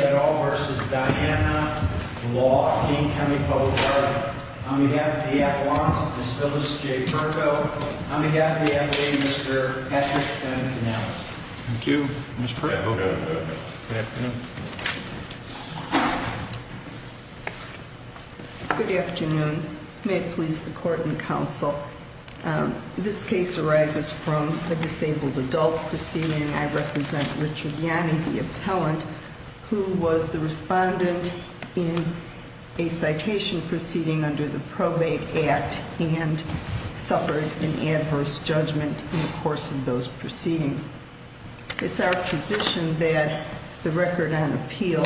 at all versus Diana Law, King County Public Guard on behalf of the at-large, Ms. Phyllis J. Perko, on behalf of the at-lay, Mr. Patrick M. Connell. Thank you, Ms. Perko. Good afternoon. Good afternoon. May it please the Court and Counsel, this case arises from a disabled adult proceeding. I represent Richard Yanni, the appellant, who was the respondent in a citation proceeding under the Probate Act and suffered an adverse judgment in the course of those proceedings. It's our position that the record on appeal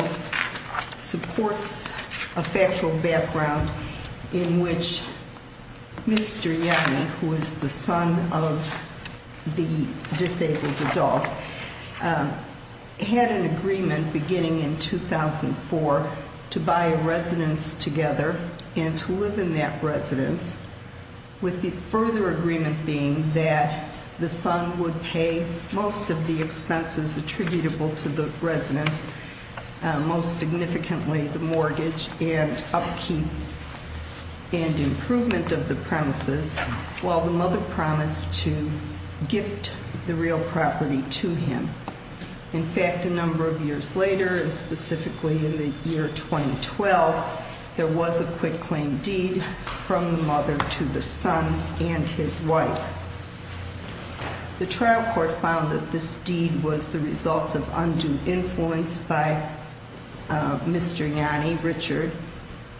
supports a factual background in which Mr. Yanni, who is the son of the disabled adult, had an agreement beginning in 2004 to buy a residence together and to live in that residence, with the further agreement being that the son would pay most of the expenses attributable to the residence, most significantly the mortgage and upkeep and improvement of the premises, while the mother promised to gift the real property to him. In fact, a number of years later, and specifically in the year 2012, there was a quick claim deed from the mother to the son and his wife. The trial court found that this deed was the result of undue influence by Mr. Yanni, Richard,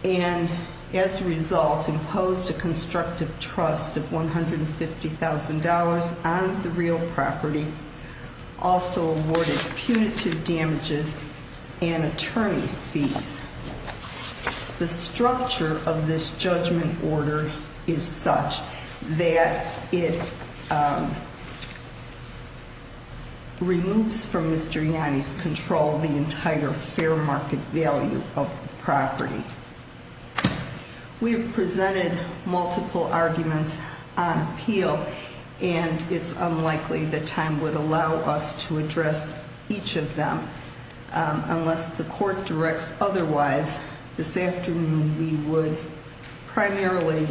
and as a result, imposed a constructive trust of $150,000 on the real property, also awarded punitive damages and attorney's fees. The structure of this judgment order is such that it removes from Mr. Yanni's control the entire fair market value of the property. We've presented multiple arguments on appeal, and it's unlikely that time would allow us to address each of them unless the court directs otherwise. This afternoon, we would primarily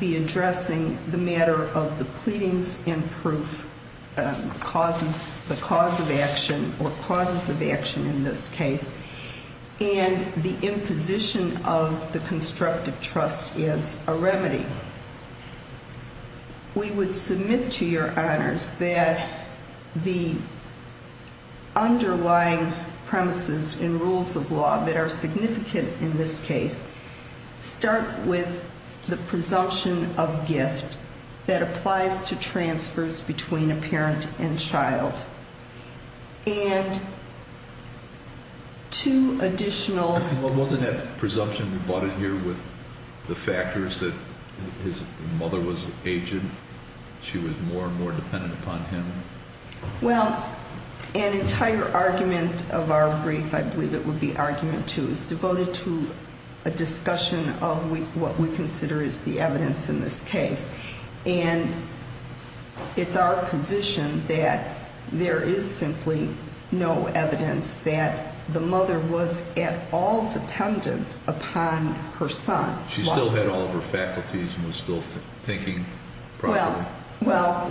be addressing the matter of the pleadings and proof, the cause of action, or causes of action in this case, and the imposition of the constructive trust as a remedy. We would submit to your honors that the underlying premises and rules of law that are significant in this case start with the presumption of gift that applies to transfers between a parent and child. And two additional... Wasn't that presumption rebutted here with the factors that his mother was aging, she was more and more dependent upon him? Well, an entire argument of our brief, I believe it would be argument two, is devoted to a discussion of what we consider is the evidence in this case. And it's our position that there is simply no evidence that the mother was at all dependent upon her son. She still had all of her faculties and was still thinking properly? Well,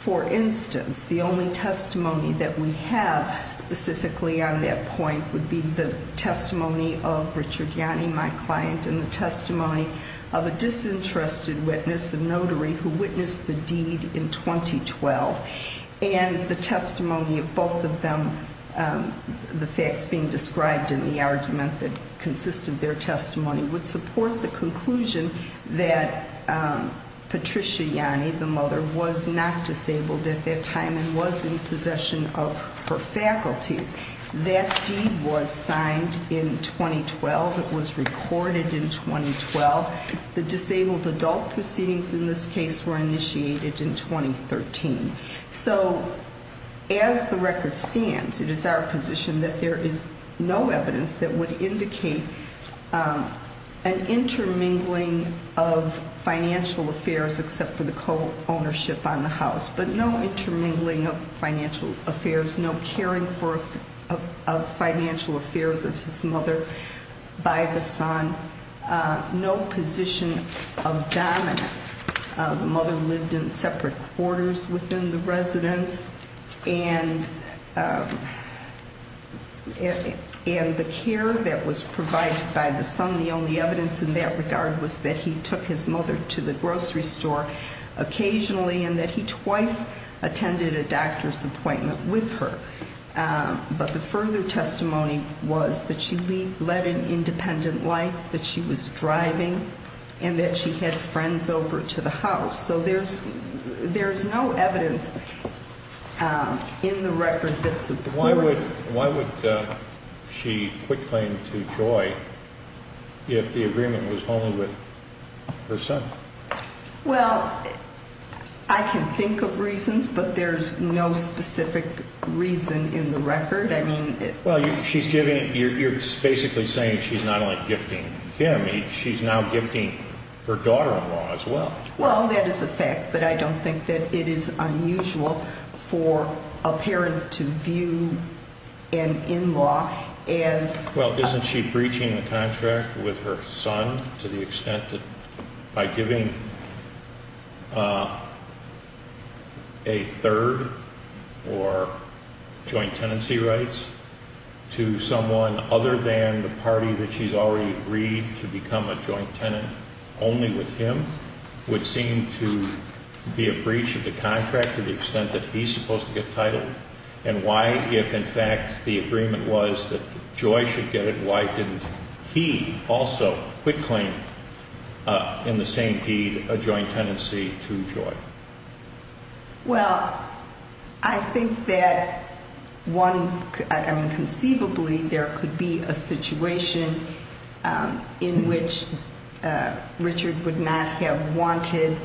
for instance, the only testimony that we have specifically on that point would be the testimony of Richard Yanni, my client, and the testimony of a disinterested witness, a notary, who witnessed the deed in 2012. And the testimony of both of them, the facts being described in the argument that consisted their testimony, would support the conclusion that Patricia Yanni, the mother, was not disabled at that time and was in possession of her faculties. That deed was signed in 2012. It was recorded in 2012. The disabled adult proceedings in this case were initiated in 2013. So as the record stands, it is our position that there is no evidence that would indicate an intermingling of financial affairs except for the co-ownership on the house. But no intermingling of financial affairs, no caring for financial affairs of his mother by the son, no position of dominance. The mother lived in separate quarters within the residence and the care that was provided by the son, the only evidence in that regard, was that he took his mother to the grocery store occasionally and that his wife attended a doctor's appointment with her. But the further testimony was that she led an independent life, that she was driving, and that she had friends over to the house. So there's no evidence in the record that supports... Why would she quit claim to Joy if the agreement was only with her son? Well, I can think of reasons, but there's no specific reason in the record. Well, you're basically saying she's not only gifting him, she's now gifting her daughter-in-law as well. Well, that is a fact, but I don't think that it is unusual for a parent to view an in-law as... Well, isn't she breaching the contract with her son to the extent that by giving a third or joint tenancy rights to someone other than the party that she's already agreed to become a joint tenant only with him would seem to be a breach of the contract to the extent that he's supposed to get title? And why, if in fact the agreement was that Joy should get it, why didn't he also quit claim in the same deed a joint tenancy to Joy? Well, I think that conceivably there could be a situation in which Richard would not have wanted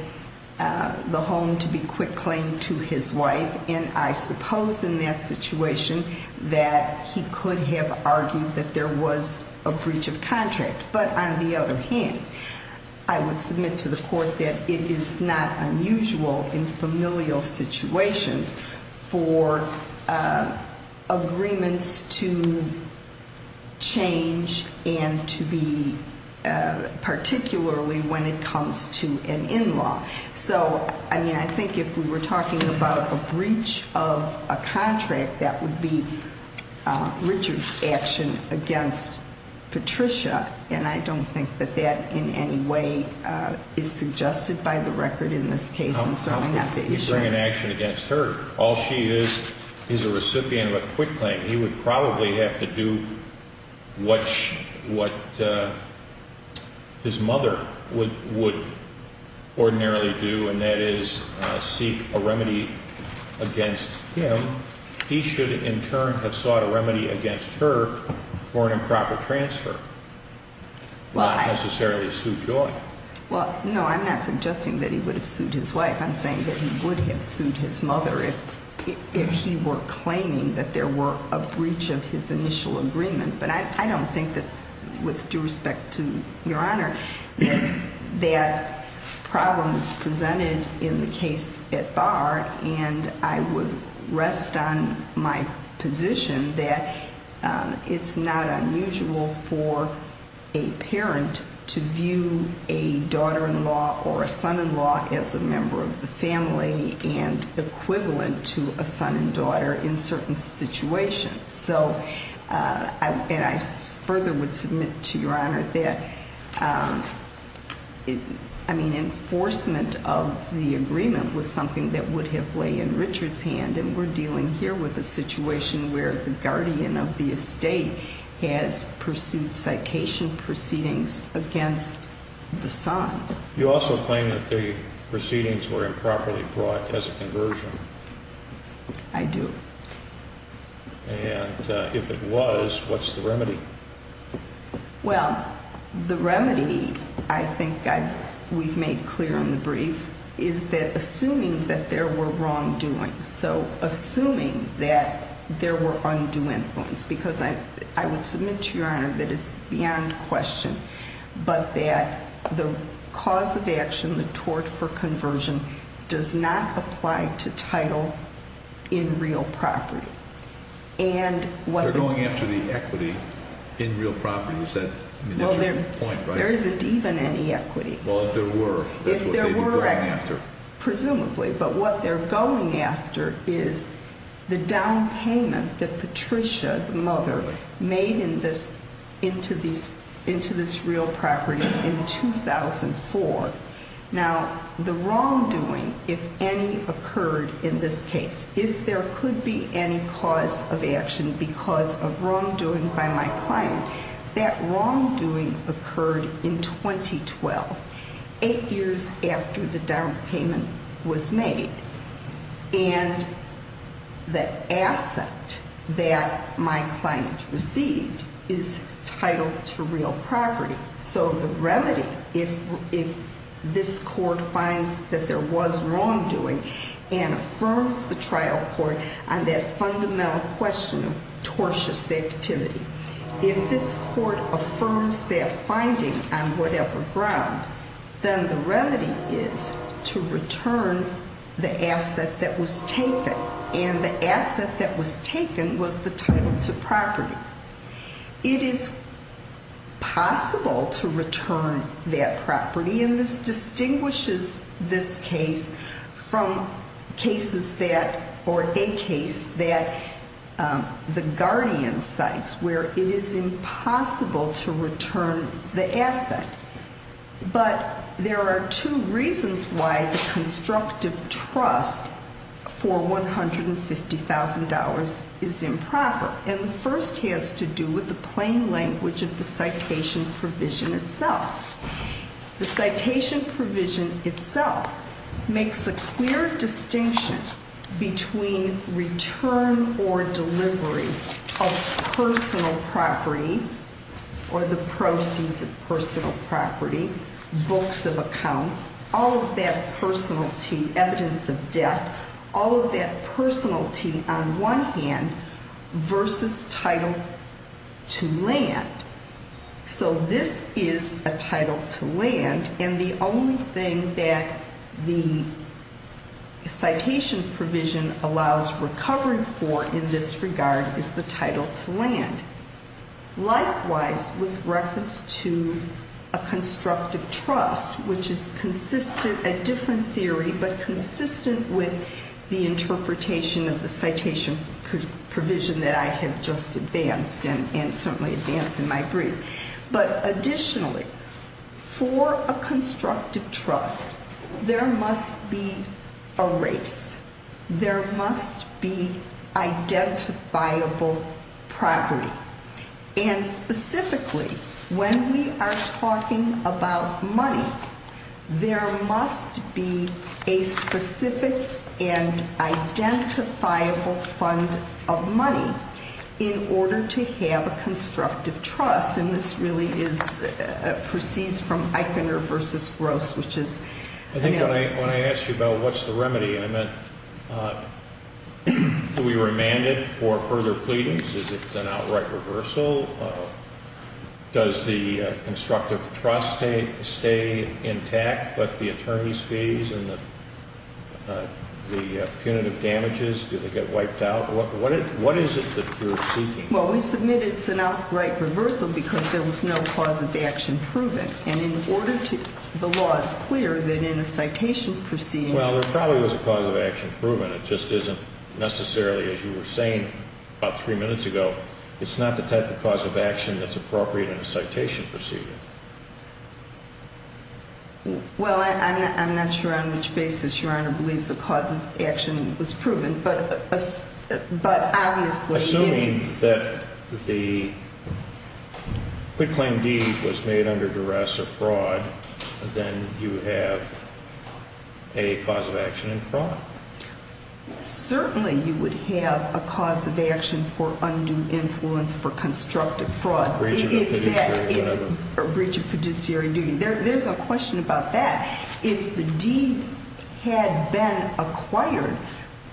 the home to be quit claim to his wife, and I suppose in that situation that he could have argued that there was a breach of contract. But on the other hand, I would submit to the court that it is not unusual in familial situations for agreements to change and to be particularly when it comes to an in-law. So, I mean, I think if we were talking about a breach of a contract, that would be Richard's action against Patricia, and I don't think that that in any way is suggested by the record in this case. Well, he'd bring an action against her. All she is is a recipient of a quit claim. He would probably have to do what his mother would ordinarily do, and that is seek a remedy against him. He should in turn have sought a remedy against her for an improper transfer, not necessarily sue Joy. Well, no, I'm not suggesting that he would have sued his wife. I'm saying that he would have sued his mother if he were claiming that there were a breach of his initial agreement. But I don't think that, with due respect to Your Honor, that problem is presented in the case at bar, and I would rest on my position that it's not unusual for a parent to view a daughter-in-law or a son-in-law as a member of the family and equivalent to a son and daughter in certain situations. So, and I further would submit to Your Honor that, I mean, enforcement of the agreement was something that would have lay in Richard's hand, and we're dealing here with a situation where the guardian of the estate has pursued citation proceedings against the son. You also claim that the proceedings were improperly brought as a conversion. I do. And if it was, what's the remedy? They're going after the equity in real property. Is that your point, right? Well, there isn't even any equity. Well, if there were, that's what they'd be going after. If there were, presumably. But what they're going after is the down payment that Patricia, the mother, made into this real property in 2004. Now, the wrongdoing, if any occurred in this case, if there could be any cause of action because of wrongdoing by my client, that wrongdoing occurred in 2012, eight years after the down payment was made. And the asset that my client received is titled to real property. So the remedy, if this court finds that there was wrongdoing and affirms the trial court on that fundamental question of tortious activity, if this court affirms that finding on whatever ground, then the remedy is to return the asset that was taken. And the asset that was taken was the title to property. It is possible to return that property, and this distinguishes this case from cases that, or a case that the guardian cites, where it is impossible to return the asset. But there are two reasons why the constructive trust for $150,000 is improper. And the first has to do with the plain language of the citation provision itself. The citation provision itself makes a clear distinction between return or delivery of personal property or the proceeds of personal property, books of accounts, all of that personality, evidence of debt, all of that personality on one hand versus title to land. So this is a title to land, and the only thing that the citation provision allows recovery for in this regard is the title to land. Likewise, with reference to a constructive trust, which is consistent, a different theory, but consistent with the interpretation of the citation provision that I have just advanced and certainly advanced in my brief. But additionally, for a constructive trust, there must be a race, there must be identifiable property. And specifically, when we are talking about money, there must be a specific and identifiable fund of money in order to have a constructive trust. And this really proceeds from Eichner versus Gross, which is- I think when I asked you about what's the remedy, I meant are we remanded for further pleadings? Is it an outright reversal? Does the constructive trust stay intact, but the attorney's fees and the punitive damages, do they get wiped out? What is it that you're seeking? Well, we submit it's an outright reversal because there was no cause of action proven. And in order to- the law is clear that in a citation proceeding- Well, there probably was a cause of action proven. It just isn't necessarily, as you were saying about three minutes ago, it's not the type of cause of action that's appropriate in a citation proceeding. Well, I'm not sure on which basis Your Honor believes the cause of action was proven, but obviously- Assuming that the quitclaim deed was made under duress or fraud, then you have a cause of action in fraud. Certainly you would have a cause of action for undue influence for constructive fraud. Breach of fiduciary duty. Breach of fiduciary duty. There's a question about that. If the deed had been acquired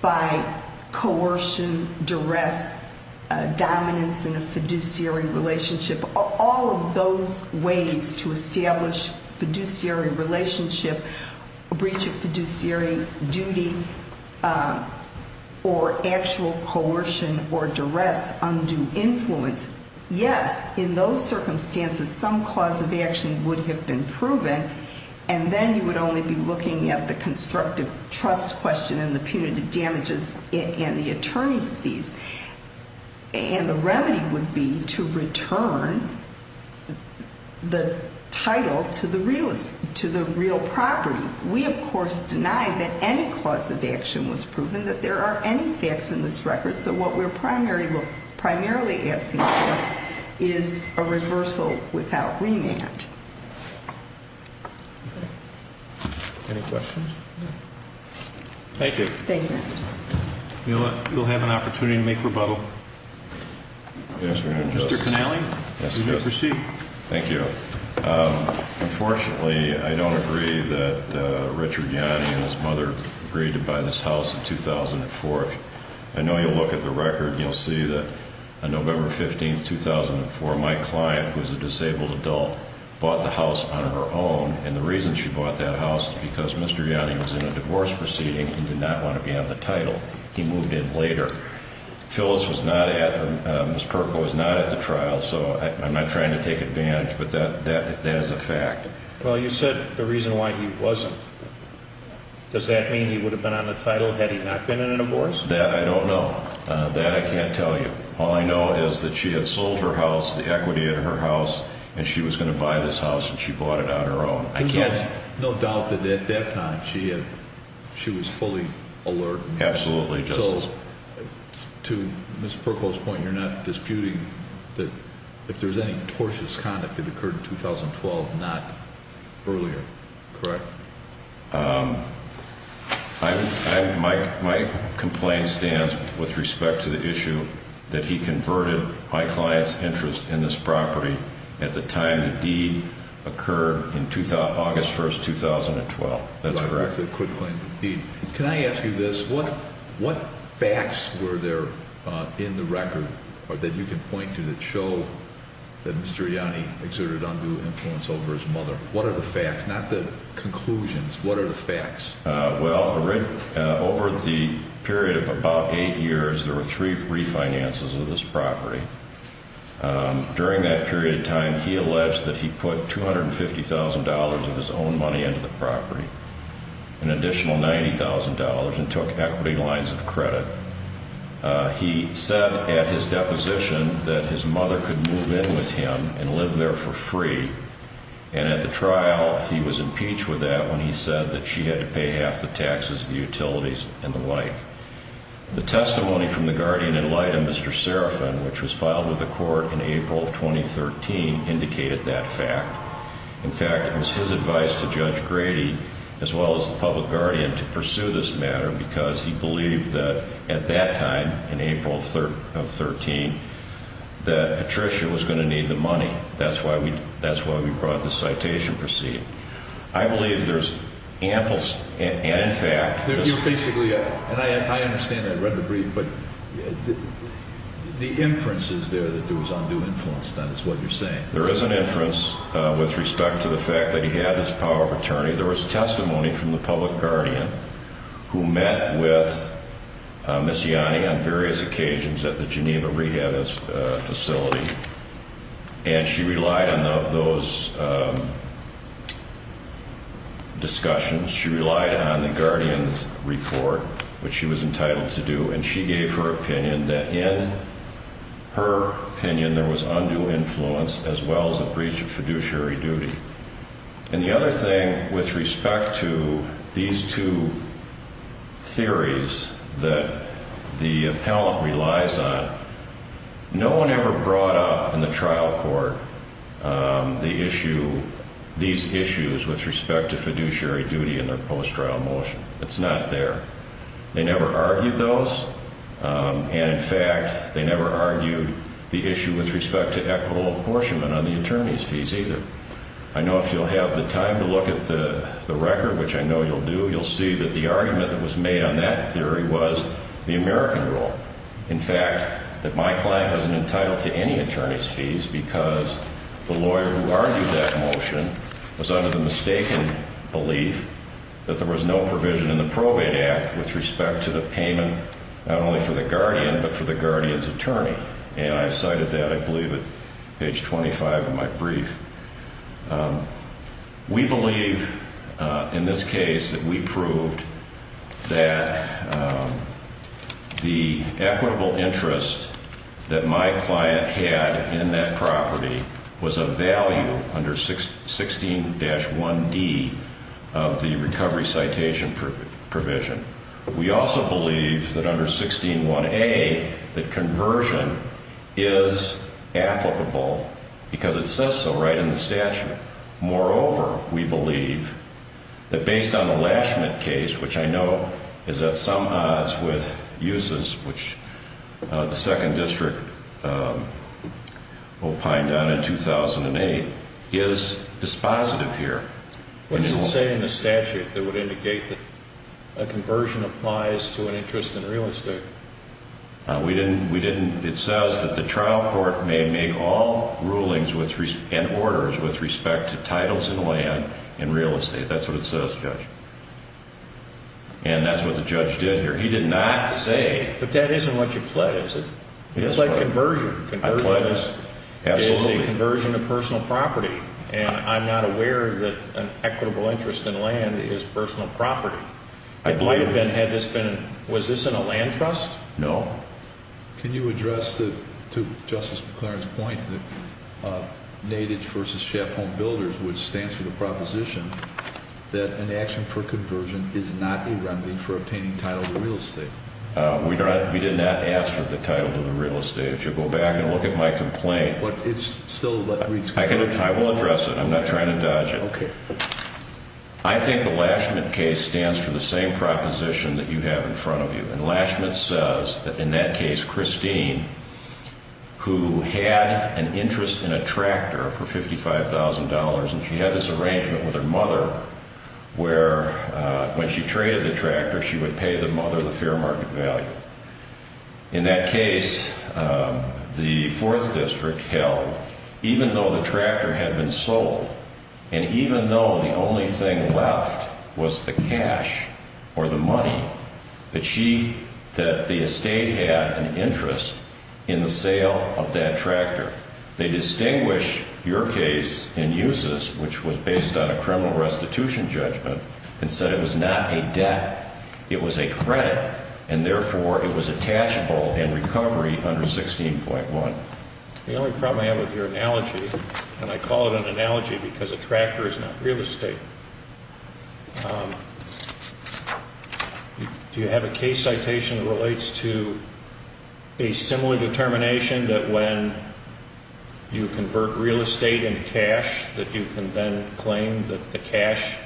by coercion, duress, dominance in a fiduciary relationship, all of those ways to establish fiduciary relationship, a breach of fiduciary duty or actual coercion or duress, undue influence, yes, in those circumstances some cause of action would have been proven. And then you would only be looking at the constructive trust question and the punitive damages and the attorney's fees. And the remedy would be to return the title to the real property. We, of course, deny that any cause of action was proven, that there are any facts in this record. So what we're primarily asking for is a reversal without remand. Any questions? Thank you. Thank you, Your Honor. You'll have an opportunity to make rebuttal. Yes, Your Honor. Mr. Connelly, you may proceed. Thank you. Unfortunately, I don't agree that Richard Yanni and his mother agreed to buy this house in 2004. I know you'll look at the record and you'll see that on November 15, 2004, my client, who is a disabled adult, bought the house on her own. And the reason she bought that house is because Mr. Yanni was in a divorce proceeding and did not want to be on the title. He moved in later. Phyllis was not at, or Ms. Perko was not at the trial, so I'm not trying to take advantage, but that is a fact. Well, you said the reason why he wasn't. Does that mean he would have been on the title had he not been in a divorce? That I don't know. That I can't tell you. All I know is that she had sold her house, the equity of her house, and she was going to buy this house and she bought it on her own. I can't... There's no doubt that at that time she was fully alert. Absolutely, Justice. So, to Ms. Perko's point, you're not disputing that if there's any tortious conduct that occurred in 2012, not earlier, correct? My complaint stands with respect to the issue that he converted my client's interest in this property at the time the deed occurred in August 1st, 2012. That's correct. Can I ask you this? What facts were there in the record that you can point to that show that Mr. Yanni exerted undue influence over his mother? What are the facts, not the conclusions? What are the facts? Well, over the period of about eight years, there were three refinances of this property. During that period of time, he alleged that he put $250,000 of his own money into the property, an additional $90,000, and took equity lines of credit. He said at his deposition that his mother could move in with him and live there for free. And at the trial, he was impeached with that when he said that she had to pay half the taxes, the utilities, and the like. The testimony from the guardian in light of Mr. Serafin, which was filed with the court in April of 2013, indicated that fact. In fact, it was his advice to Judge Grady, as well as the public guardian, to pursue this matter because he believed that at that time, in April of 2013, that Patricia was going to need the money. That's why we brought this citation proceeding. I believe there's ample and in fact— You're basically—and I understand that. I read the brief. But the inference is there that there was undue influence. That is what you're saying. There is an inference with respect to the fact that he had this power of attorney. There was testimony from the public guardian who met with Ms. Yanni on various occasions at the Geneva Rehab Facility. And she relied on those discussions. She relied on the guardian's report, which she was entitled to do. And she gave her opinion that in her opinion there was undue influence, as well as a breach of fiduciary duty. And the other thing with respect to these two theories that the appellant relies on, no one ever brought up in the trial court the issue—these issues with respect to fiduciary duty in their post-trial motion. It's not there. They never argued those. And in fact, they never argued the issue with respect to equitable apportionment on the attorney's fees, either. I know if you'll have the time to look at the record, which I know you'll do, you'll see that the argument that was made on that theory was the American rule. In fact, that my client wasn't entitled to any attorney's fees because the lawyer who argued that motion was under the mistaken belief that there was no provision in the Probate Act with respect to the payment not only for the guardian, but for the guardian's attorney. And I cited that, I believe, at page 25 of my brief. We believe in this case that we proved that the equitable interest that my client had in that property was of value under 16-1D of the recovery citation provision. We also believe that under 16-1A that conversion is applicable because it says so right in the statute. Moreover, we believe that based on the Lashman case, which I know is at some odds with uses, which the Second District opined on in 2008, is dispositive here. What does it say in the statute that would indicate that a conversion applies to an interest in real estate? It says that the trial court may make all rulings and orders with respect to titles and land in real estate. That's what it says, Judge. And that's what the judge did here. He did not say... But that isn't what you pledged, is it? It's like conversion. I pledged. Absolutely. It is a conversion of personal property, and I'm not aware that an equitable interest in land is personal property. It might have been, had this been... Was this in a land trust? No. Can you address, to Justice McLaren's point, the NADIGE v. Schaffone Builders, which stands for the proposition that an action for conversion is not a remedy for obtaining title to real estate? We did not ask for the title to the real estate. If you'll go back and look at my complaint... But it's still... I will address it. I'm not trying to dodge it. Okay. I think the Lashman case stands for the same proposition that you have in front of you. And Lashman says that in that case, Christine, who had an interest in a tractor for $55,000, and she had this arrangement with her mother, where when she traded the tractor, she would pay the mother the fair market value. In that case, the 4th District held, even though the tractor had been sold, and even though the only thing left was the cash or the money, that she... that the estate had an interest in the sale of that tractor. They distinguish your case in uses, which was based on a criminal restitution judgment, and said it was not a debt, it was a credit, and therefore it was attachable in recovery under 16.1. The only problem I have with your analogy, and I call it an analogy because a tractor is not real estate... Do you have a case citation that relates to a similar determination that when you convert real estate in cash, that you can then claim that the cash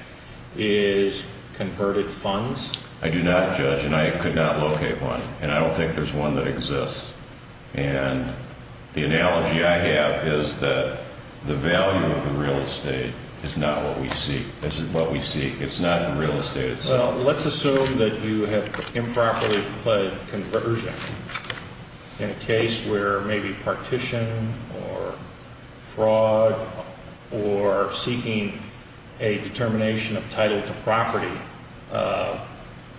is converted funds? I do not, Judge, and I could not locate one. And I don't think there's one that exists. And the analogy I have is that the value of the real estate is not what we seek. It's not the real estate itself. So let's assume that you have improperly pled conversion in a case where maybe partition or fraud or seeking a determination of title to property,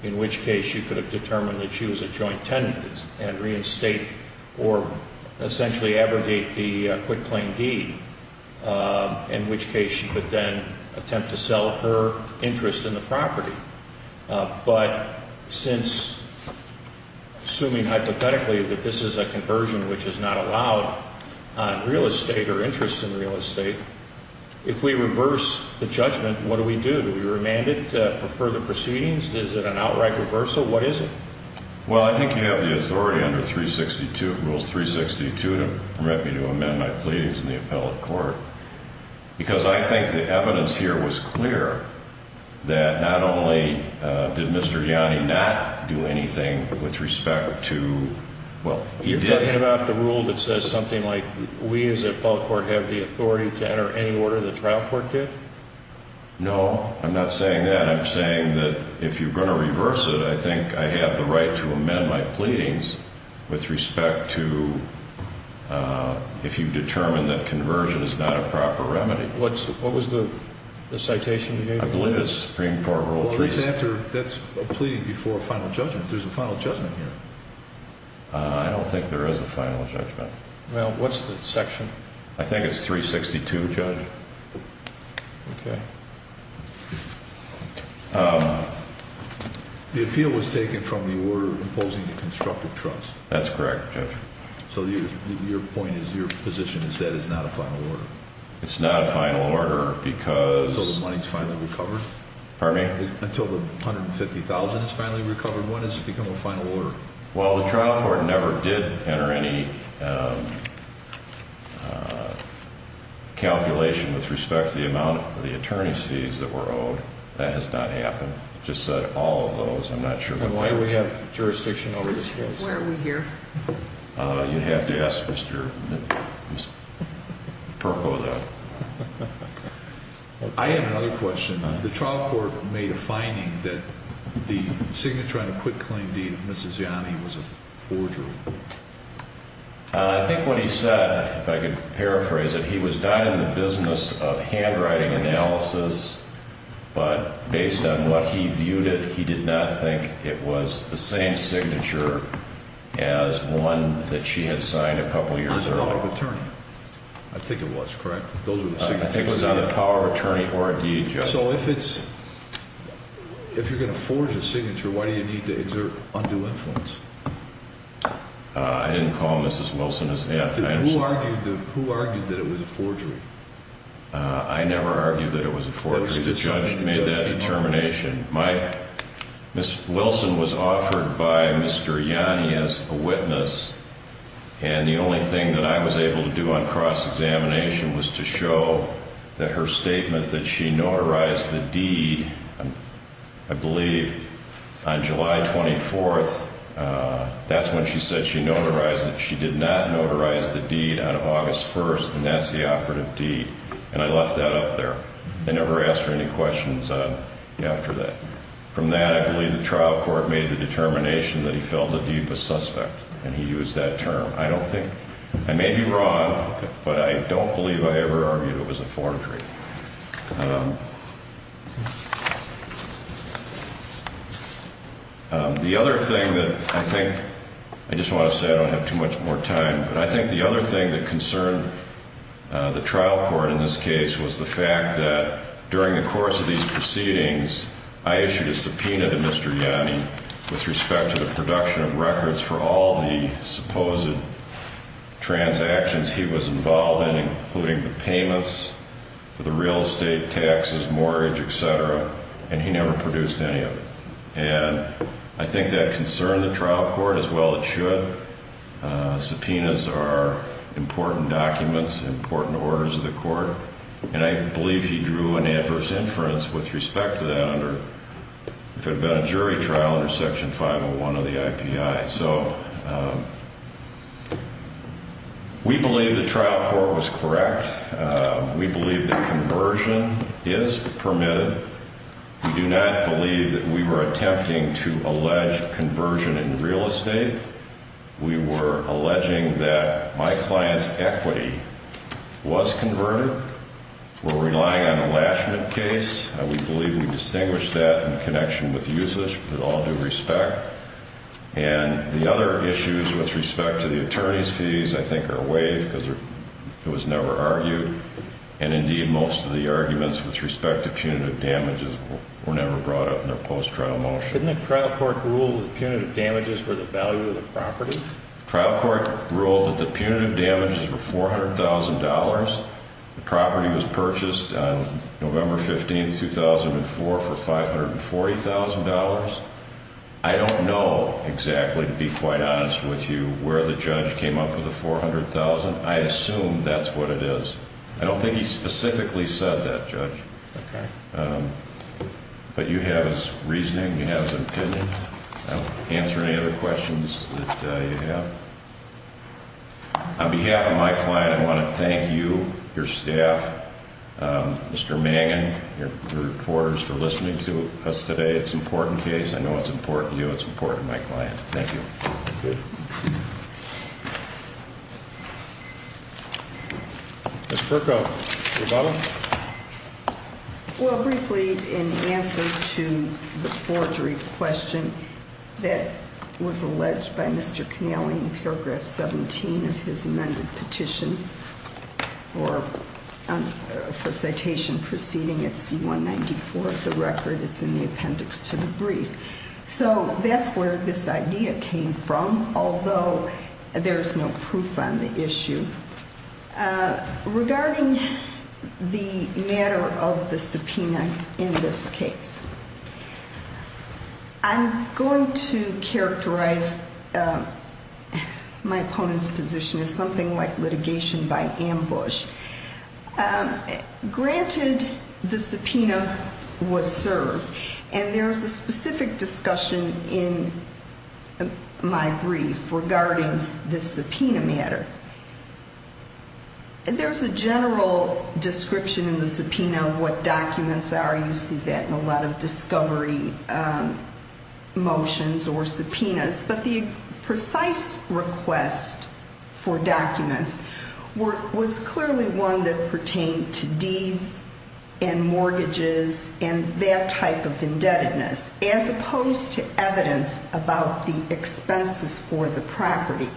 in which case you could have determined that she was a joint tenant and reinstate or essentially abrogate the quitclaim deed, in which case you could then attempt to sell her interest in the property. But since, assuming hypothetically that this is a conversion which is not allowed on real estate or interest in real estate, if we reverse the judgment, what do we do? Do we remand it for further proceedings? Is it an outright reversal? What is it? Well, I think you have the authority under Rules 362 to permit me to amend my pleadings in the appellate court, because I think the evidence here was clear that not only did Mr. Yanni not do anything with respect to... You're talking about the rule that says something like we as the appellate court have the authority to enter any order the trial court did? No, I'm not saying that. I'm saying that if you're going to reverse it, I think I have the right to amend my pleadings with respect to if you determine that conversion is not a proper remedy. What was the citation you gave? I believe it's Supreme Court Rule 362. Well, that's a plea before a final judgment. There's a final judgment here. I don't think there is a final judgment. Well, what's the section? I think it's 362, Judge. The appeal was taken from the order imposing the constructive trust. That's correct, Judge. So your point is, your position is that it's not a final order? It's not a final order, because... Until the money's finally recovered? Pardon me? Until the $150,000 is finally recovered, when does it become a final order? Well, the trial court never did enter any calculation with respect to the amount of the attorney's fees that were owed. That has not happened. Just said all of those. I'm not sure... Then why do we have jurisdiction over this case? Where are we here? You'd have to ask Mr. Perco that. I have another question. The trial court made a finding that the signature on the quick claim deed of Mrs. Yanni was a forgery. I think what he said, if I could paraphrase it, he was not in the business of handwriting analysis, but based on what he viewed it, he did not think it was the same signature as one that she had signed a couple years earlier. I think it was, correct? I think it was on the power of attorney or deed. So if it's... if you're going to forge a signature, why do you need to exert undue influence? I didn't call Mrs. Wilson... Who argued that it was a forgery? I never argued that it was a forgery. The judge made that determination. My... Mrs. Wilson was offered by Mr. Yanni as a witness, and the only thing that I was able to do on cross-examination was to show that her statement that she notarized the deed, I believe, on July 24th, that's when she said she notarized it. She did not notarize the deed on August 1st, and that's the operative deed. And I left that up there. I never asked her any questions after that. From that, I believe the trial court made the determination that he felt the deed was suspect, and he used that term. I don't think... I may be wrong, but I don't believe I ever argued it was a forgery. The other thing that I think... I just want to say I don't have too much more time, but I think the other thing that concerned the trial court in this case was the fact that during the course of these proceedings, I issued a subpoena to Mr. Yanni with respect to the production of records for all the supposed transactions he was involved in, including the payments, the money, and so forth. The real estate, taxes, mortgage, et cetera, and he never produced any of it. And I think that concerned the trial court as well as it should. Subpoenas are important documents, important orders of the court, and I believe he drew an adverse inference with respect to that under... if it had been a jury trial under Section 501 of the IPI. So we believe the trial court was correct. We believe that conversion is permitted. We do not believe that we were attempting to allege conversion in real estate. We were alleging that my client's equity was converted. We're relying on a last-minute case. We believe we distinguished that in connection with usage with all due respect. And the other issues with respect to the attorney's fees I think are waived because it was never argued. And indeed, most of the arguments with respect to punitive damages were never brought up in a post-trial motion. Didn't the trial court rule that punitive damages were the value of the property? The trial court ruled that the punitive damages were $400,000. The property was purchased on November 15, 2004 for $540,000. I don't know exactly, to be quite honest with you, where the judge came up with the $400,000. I assume that's what it is. I don't think he specifically said that, Judge. Okay. But you have his reasoning, you have his opinion. I don't answer any other questions that you have. On behalf of my client, I want to thank you, your staff, Mr. Mangan, your reporters for listening to us today. It's an important case. I know it's important to you. It's important to my client. Thank you. Ms. Perko, do you have a problem? Well, briefly, in answer to the forgery question that was alleged by Mr. Connelly in paragraph 17 of his amended petition, or for citation proceeding at C-194 of the record that's in the appendix to the brief. So that's where this idea came from, although there's no proof on the issue. Regarding the matter of the subpoena in this case, I'm going to characterize my opponent's position as something like litigation by ambush. Granted, the subpoena was served, and there's a specific discussion in my brief regarding the subpoena matter. There's a general description in the subpoena of what documents are. You see that in a lot of discovery motions or subpoenas. But the precise request for documents was clearly one that pertained to deeds and mortgages and that type of indebtedness, as opposed to evidence about the expenses for the property.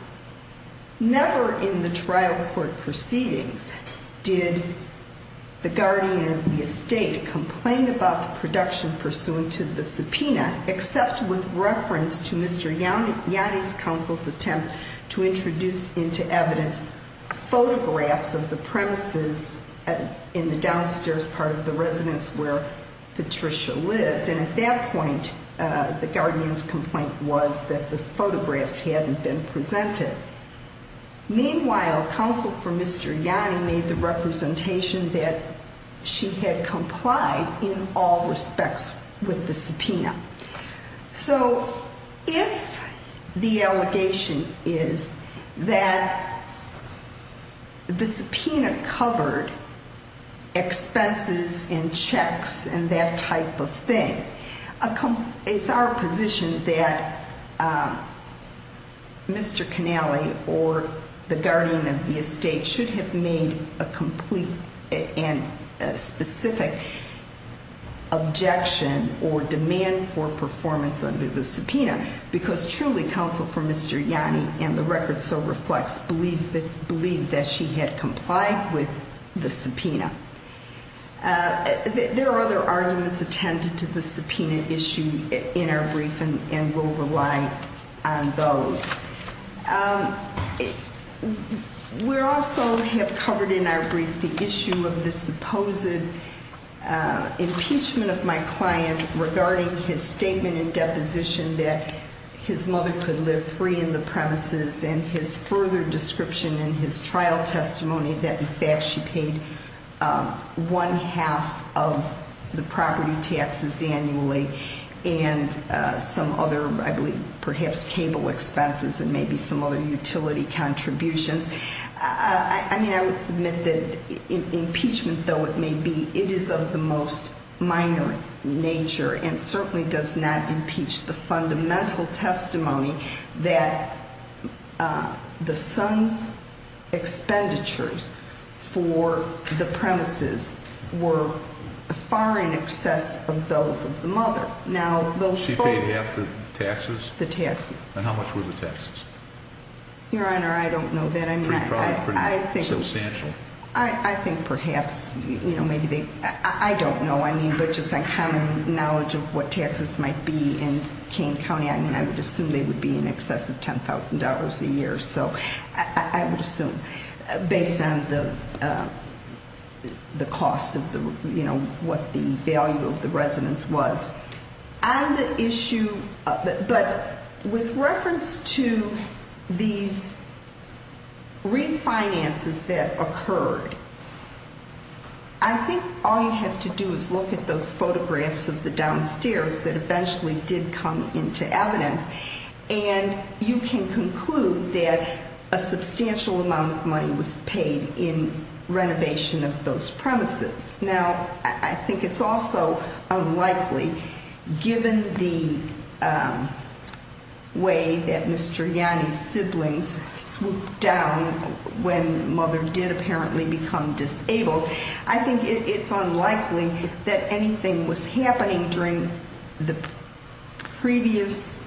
Never in the trial court proceedings did the guardian of the estate complain about the production pursuant to the subpoena, except with reference to Mr. Yanni's counsel's attempt to introduce into evidence photographs of the premises in the downstairs part of the residence where Patricia lived. And at that point, the guardian's complaint was that the photographs hadn't been presented. Meanwhile, counsel for Mr. Yanni made the representation that she had complied in all respects with the subpoena. So if the allegation is that the subpoena covered expenses and checks and that type of thing, it's our position that Mr. Canale or the guardian of the estate should have made a complete and specific objection or demand for performance under the subpoena, because truly, counsel for Mr. Yanni and the record so reflects believed that she had complied with the subpoena. There are other arguments attended to the subpoena issue in our briefing and we'll rely on those. We also have covered in our brief the issue of the supposed impeachment of my client regarding his statement in deposition that his mother could live free in the premises and his further description in his trial testimony that in fact she paid one half of the property taxes annually and some other, I believe, perhaps cable expenses and maybe some other utility contributions. I would submit that impeachment, though it may be, it is of the most minor nature and certainly does not impeach the fundamental testimony that the son's expenditures for the premises were far in excess of those of the mother. She paid half the taxes? The taxes. And how much were the taxes? Your Honor, I don't know that. I mean, I think. Substantial. I think perhaps, you know, maybe they, I don't know. I mean, but just on common knowledge of what taxes might be in Kane County, I mean, I would assume they would be in excess of $10,000 a year. So I would assume based on the cost of the, you know, what the value of the residence was. But with reference to these refinances that occurred, I think all you have to do is look at those photographs of the downstairs that eventually did come into evidence and you can conclude that a substantial amount of money was paid in renovation of those premises. Now, I think it's also unlikely, given the way that Mr. Yanni's siblings swooped down when mother did apparently become disabled. I think it's unlikely that anything was happening during the previous.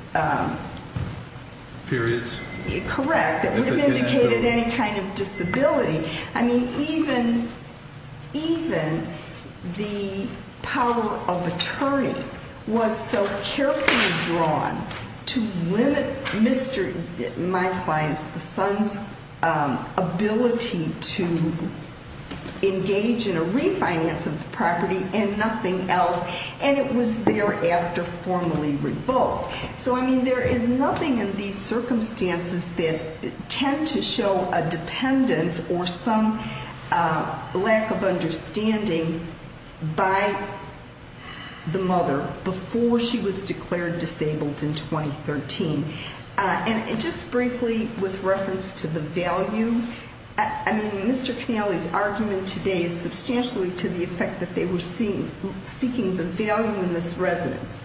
Periods. Correct. That would have indicated any kind of disability. I mean, even, even the power of attorney was so carefully drawn to limit Mr., my client's, the son's ability to engage in a refinance of the property and nothing else. And it was thereafter formally revoked. So, I mean, there is nothing in these circumstances that tend to show a dependence or some lack of understanding by the mother before she was declared disabled in 2013. And just briefly with reference to the value, I mean, Mr. Canale's argument today is substantially to the effect that they were seeking the value in this residence.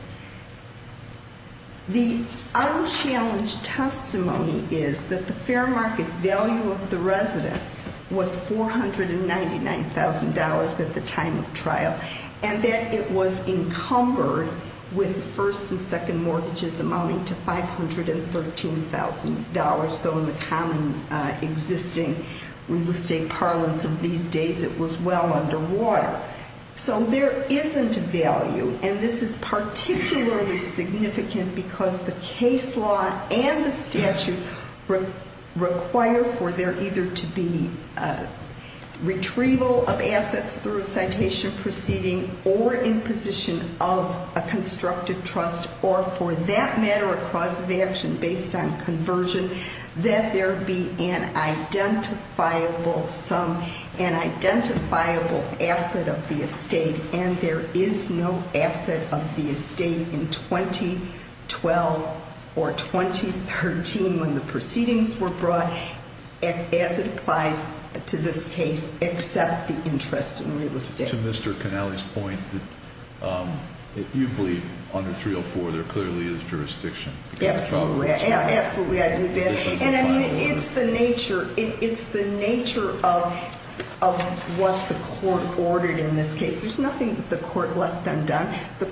The unchallenged testimony is that the fair market value of the residence was $499,000 at the time of trial. And that it was encumbered with first and second mortgages amounting to $513,000. So in the common existing real estate parlance of these days, it was well underwater. So there isn't a value. And this is particularly significant because the case law and the statute require for there either to be retrieval of assets through a citation proceeding or imposition of a constructive trust. Or for that matter, a cause of action based on conversion, that there be an identifiable sum, an identifiable asset of the estate. And there is no asset of the estate in 2012 or 2013 when the proceedings were brought as it applies to this case except the interest in real estate. To Mr. Canale's point that you believe under 304, there clearly is jurisdiction. Absolutely. Absolutely, I do, Dan. And I mean, it's the nature of what the court ordered in this case. There's nothing that the court left undone. He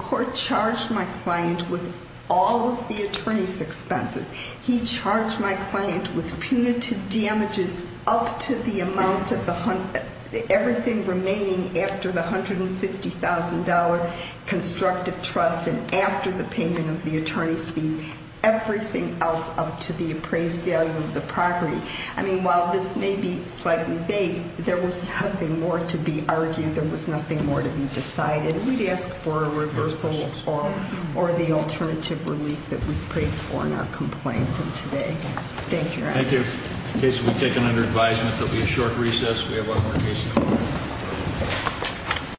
charged my client with punitive damages up to the amount of the, everything remaining after the $150,000 constructive trust and after the payment of the attorney's fees, everything else up to the appraised value of the property. I mean, while this may be slightly vague, there was nothing more to be argued. There was nothing more to be decided. We'd ask for a reversal or the alternative relief that we've paid for in our complaint of today. Thank you, Your Honor. Thank you. The case will be taken under advisement. There'll be a short recess. We have a lot more cases.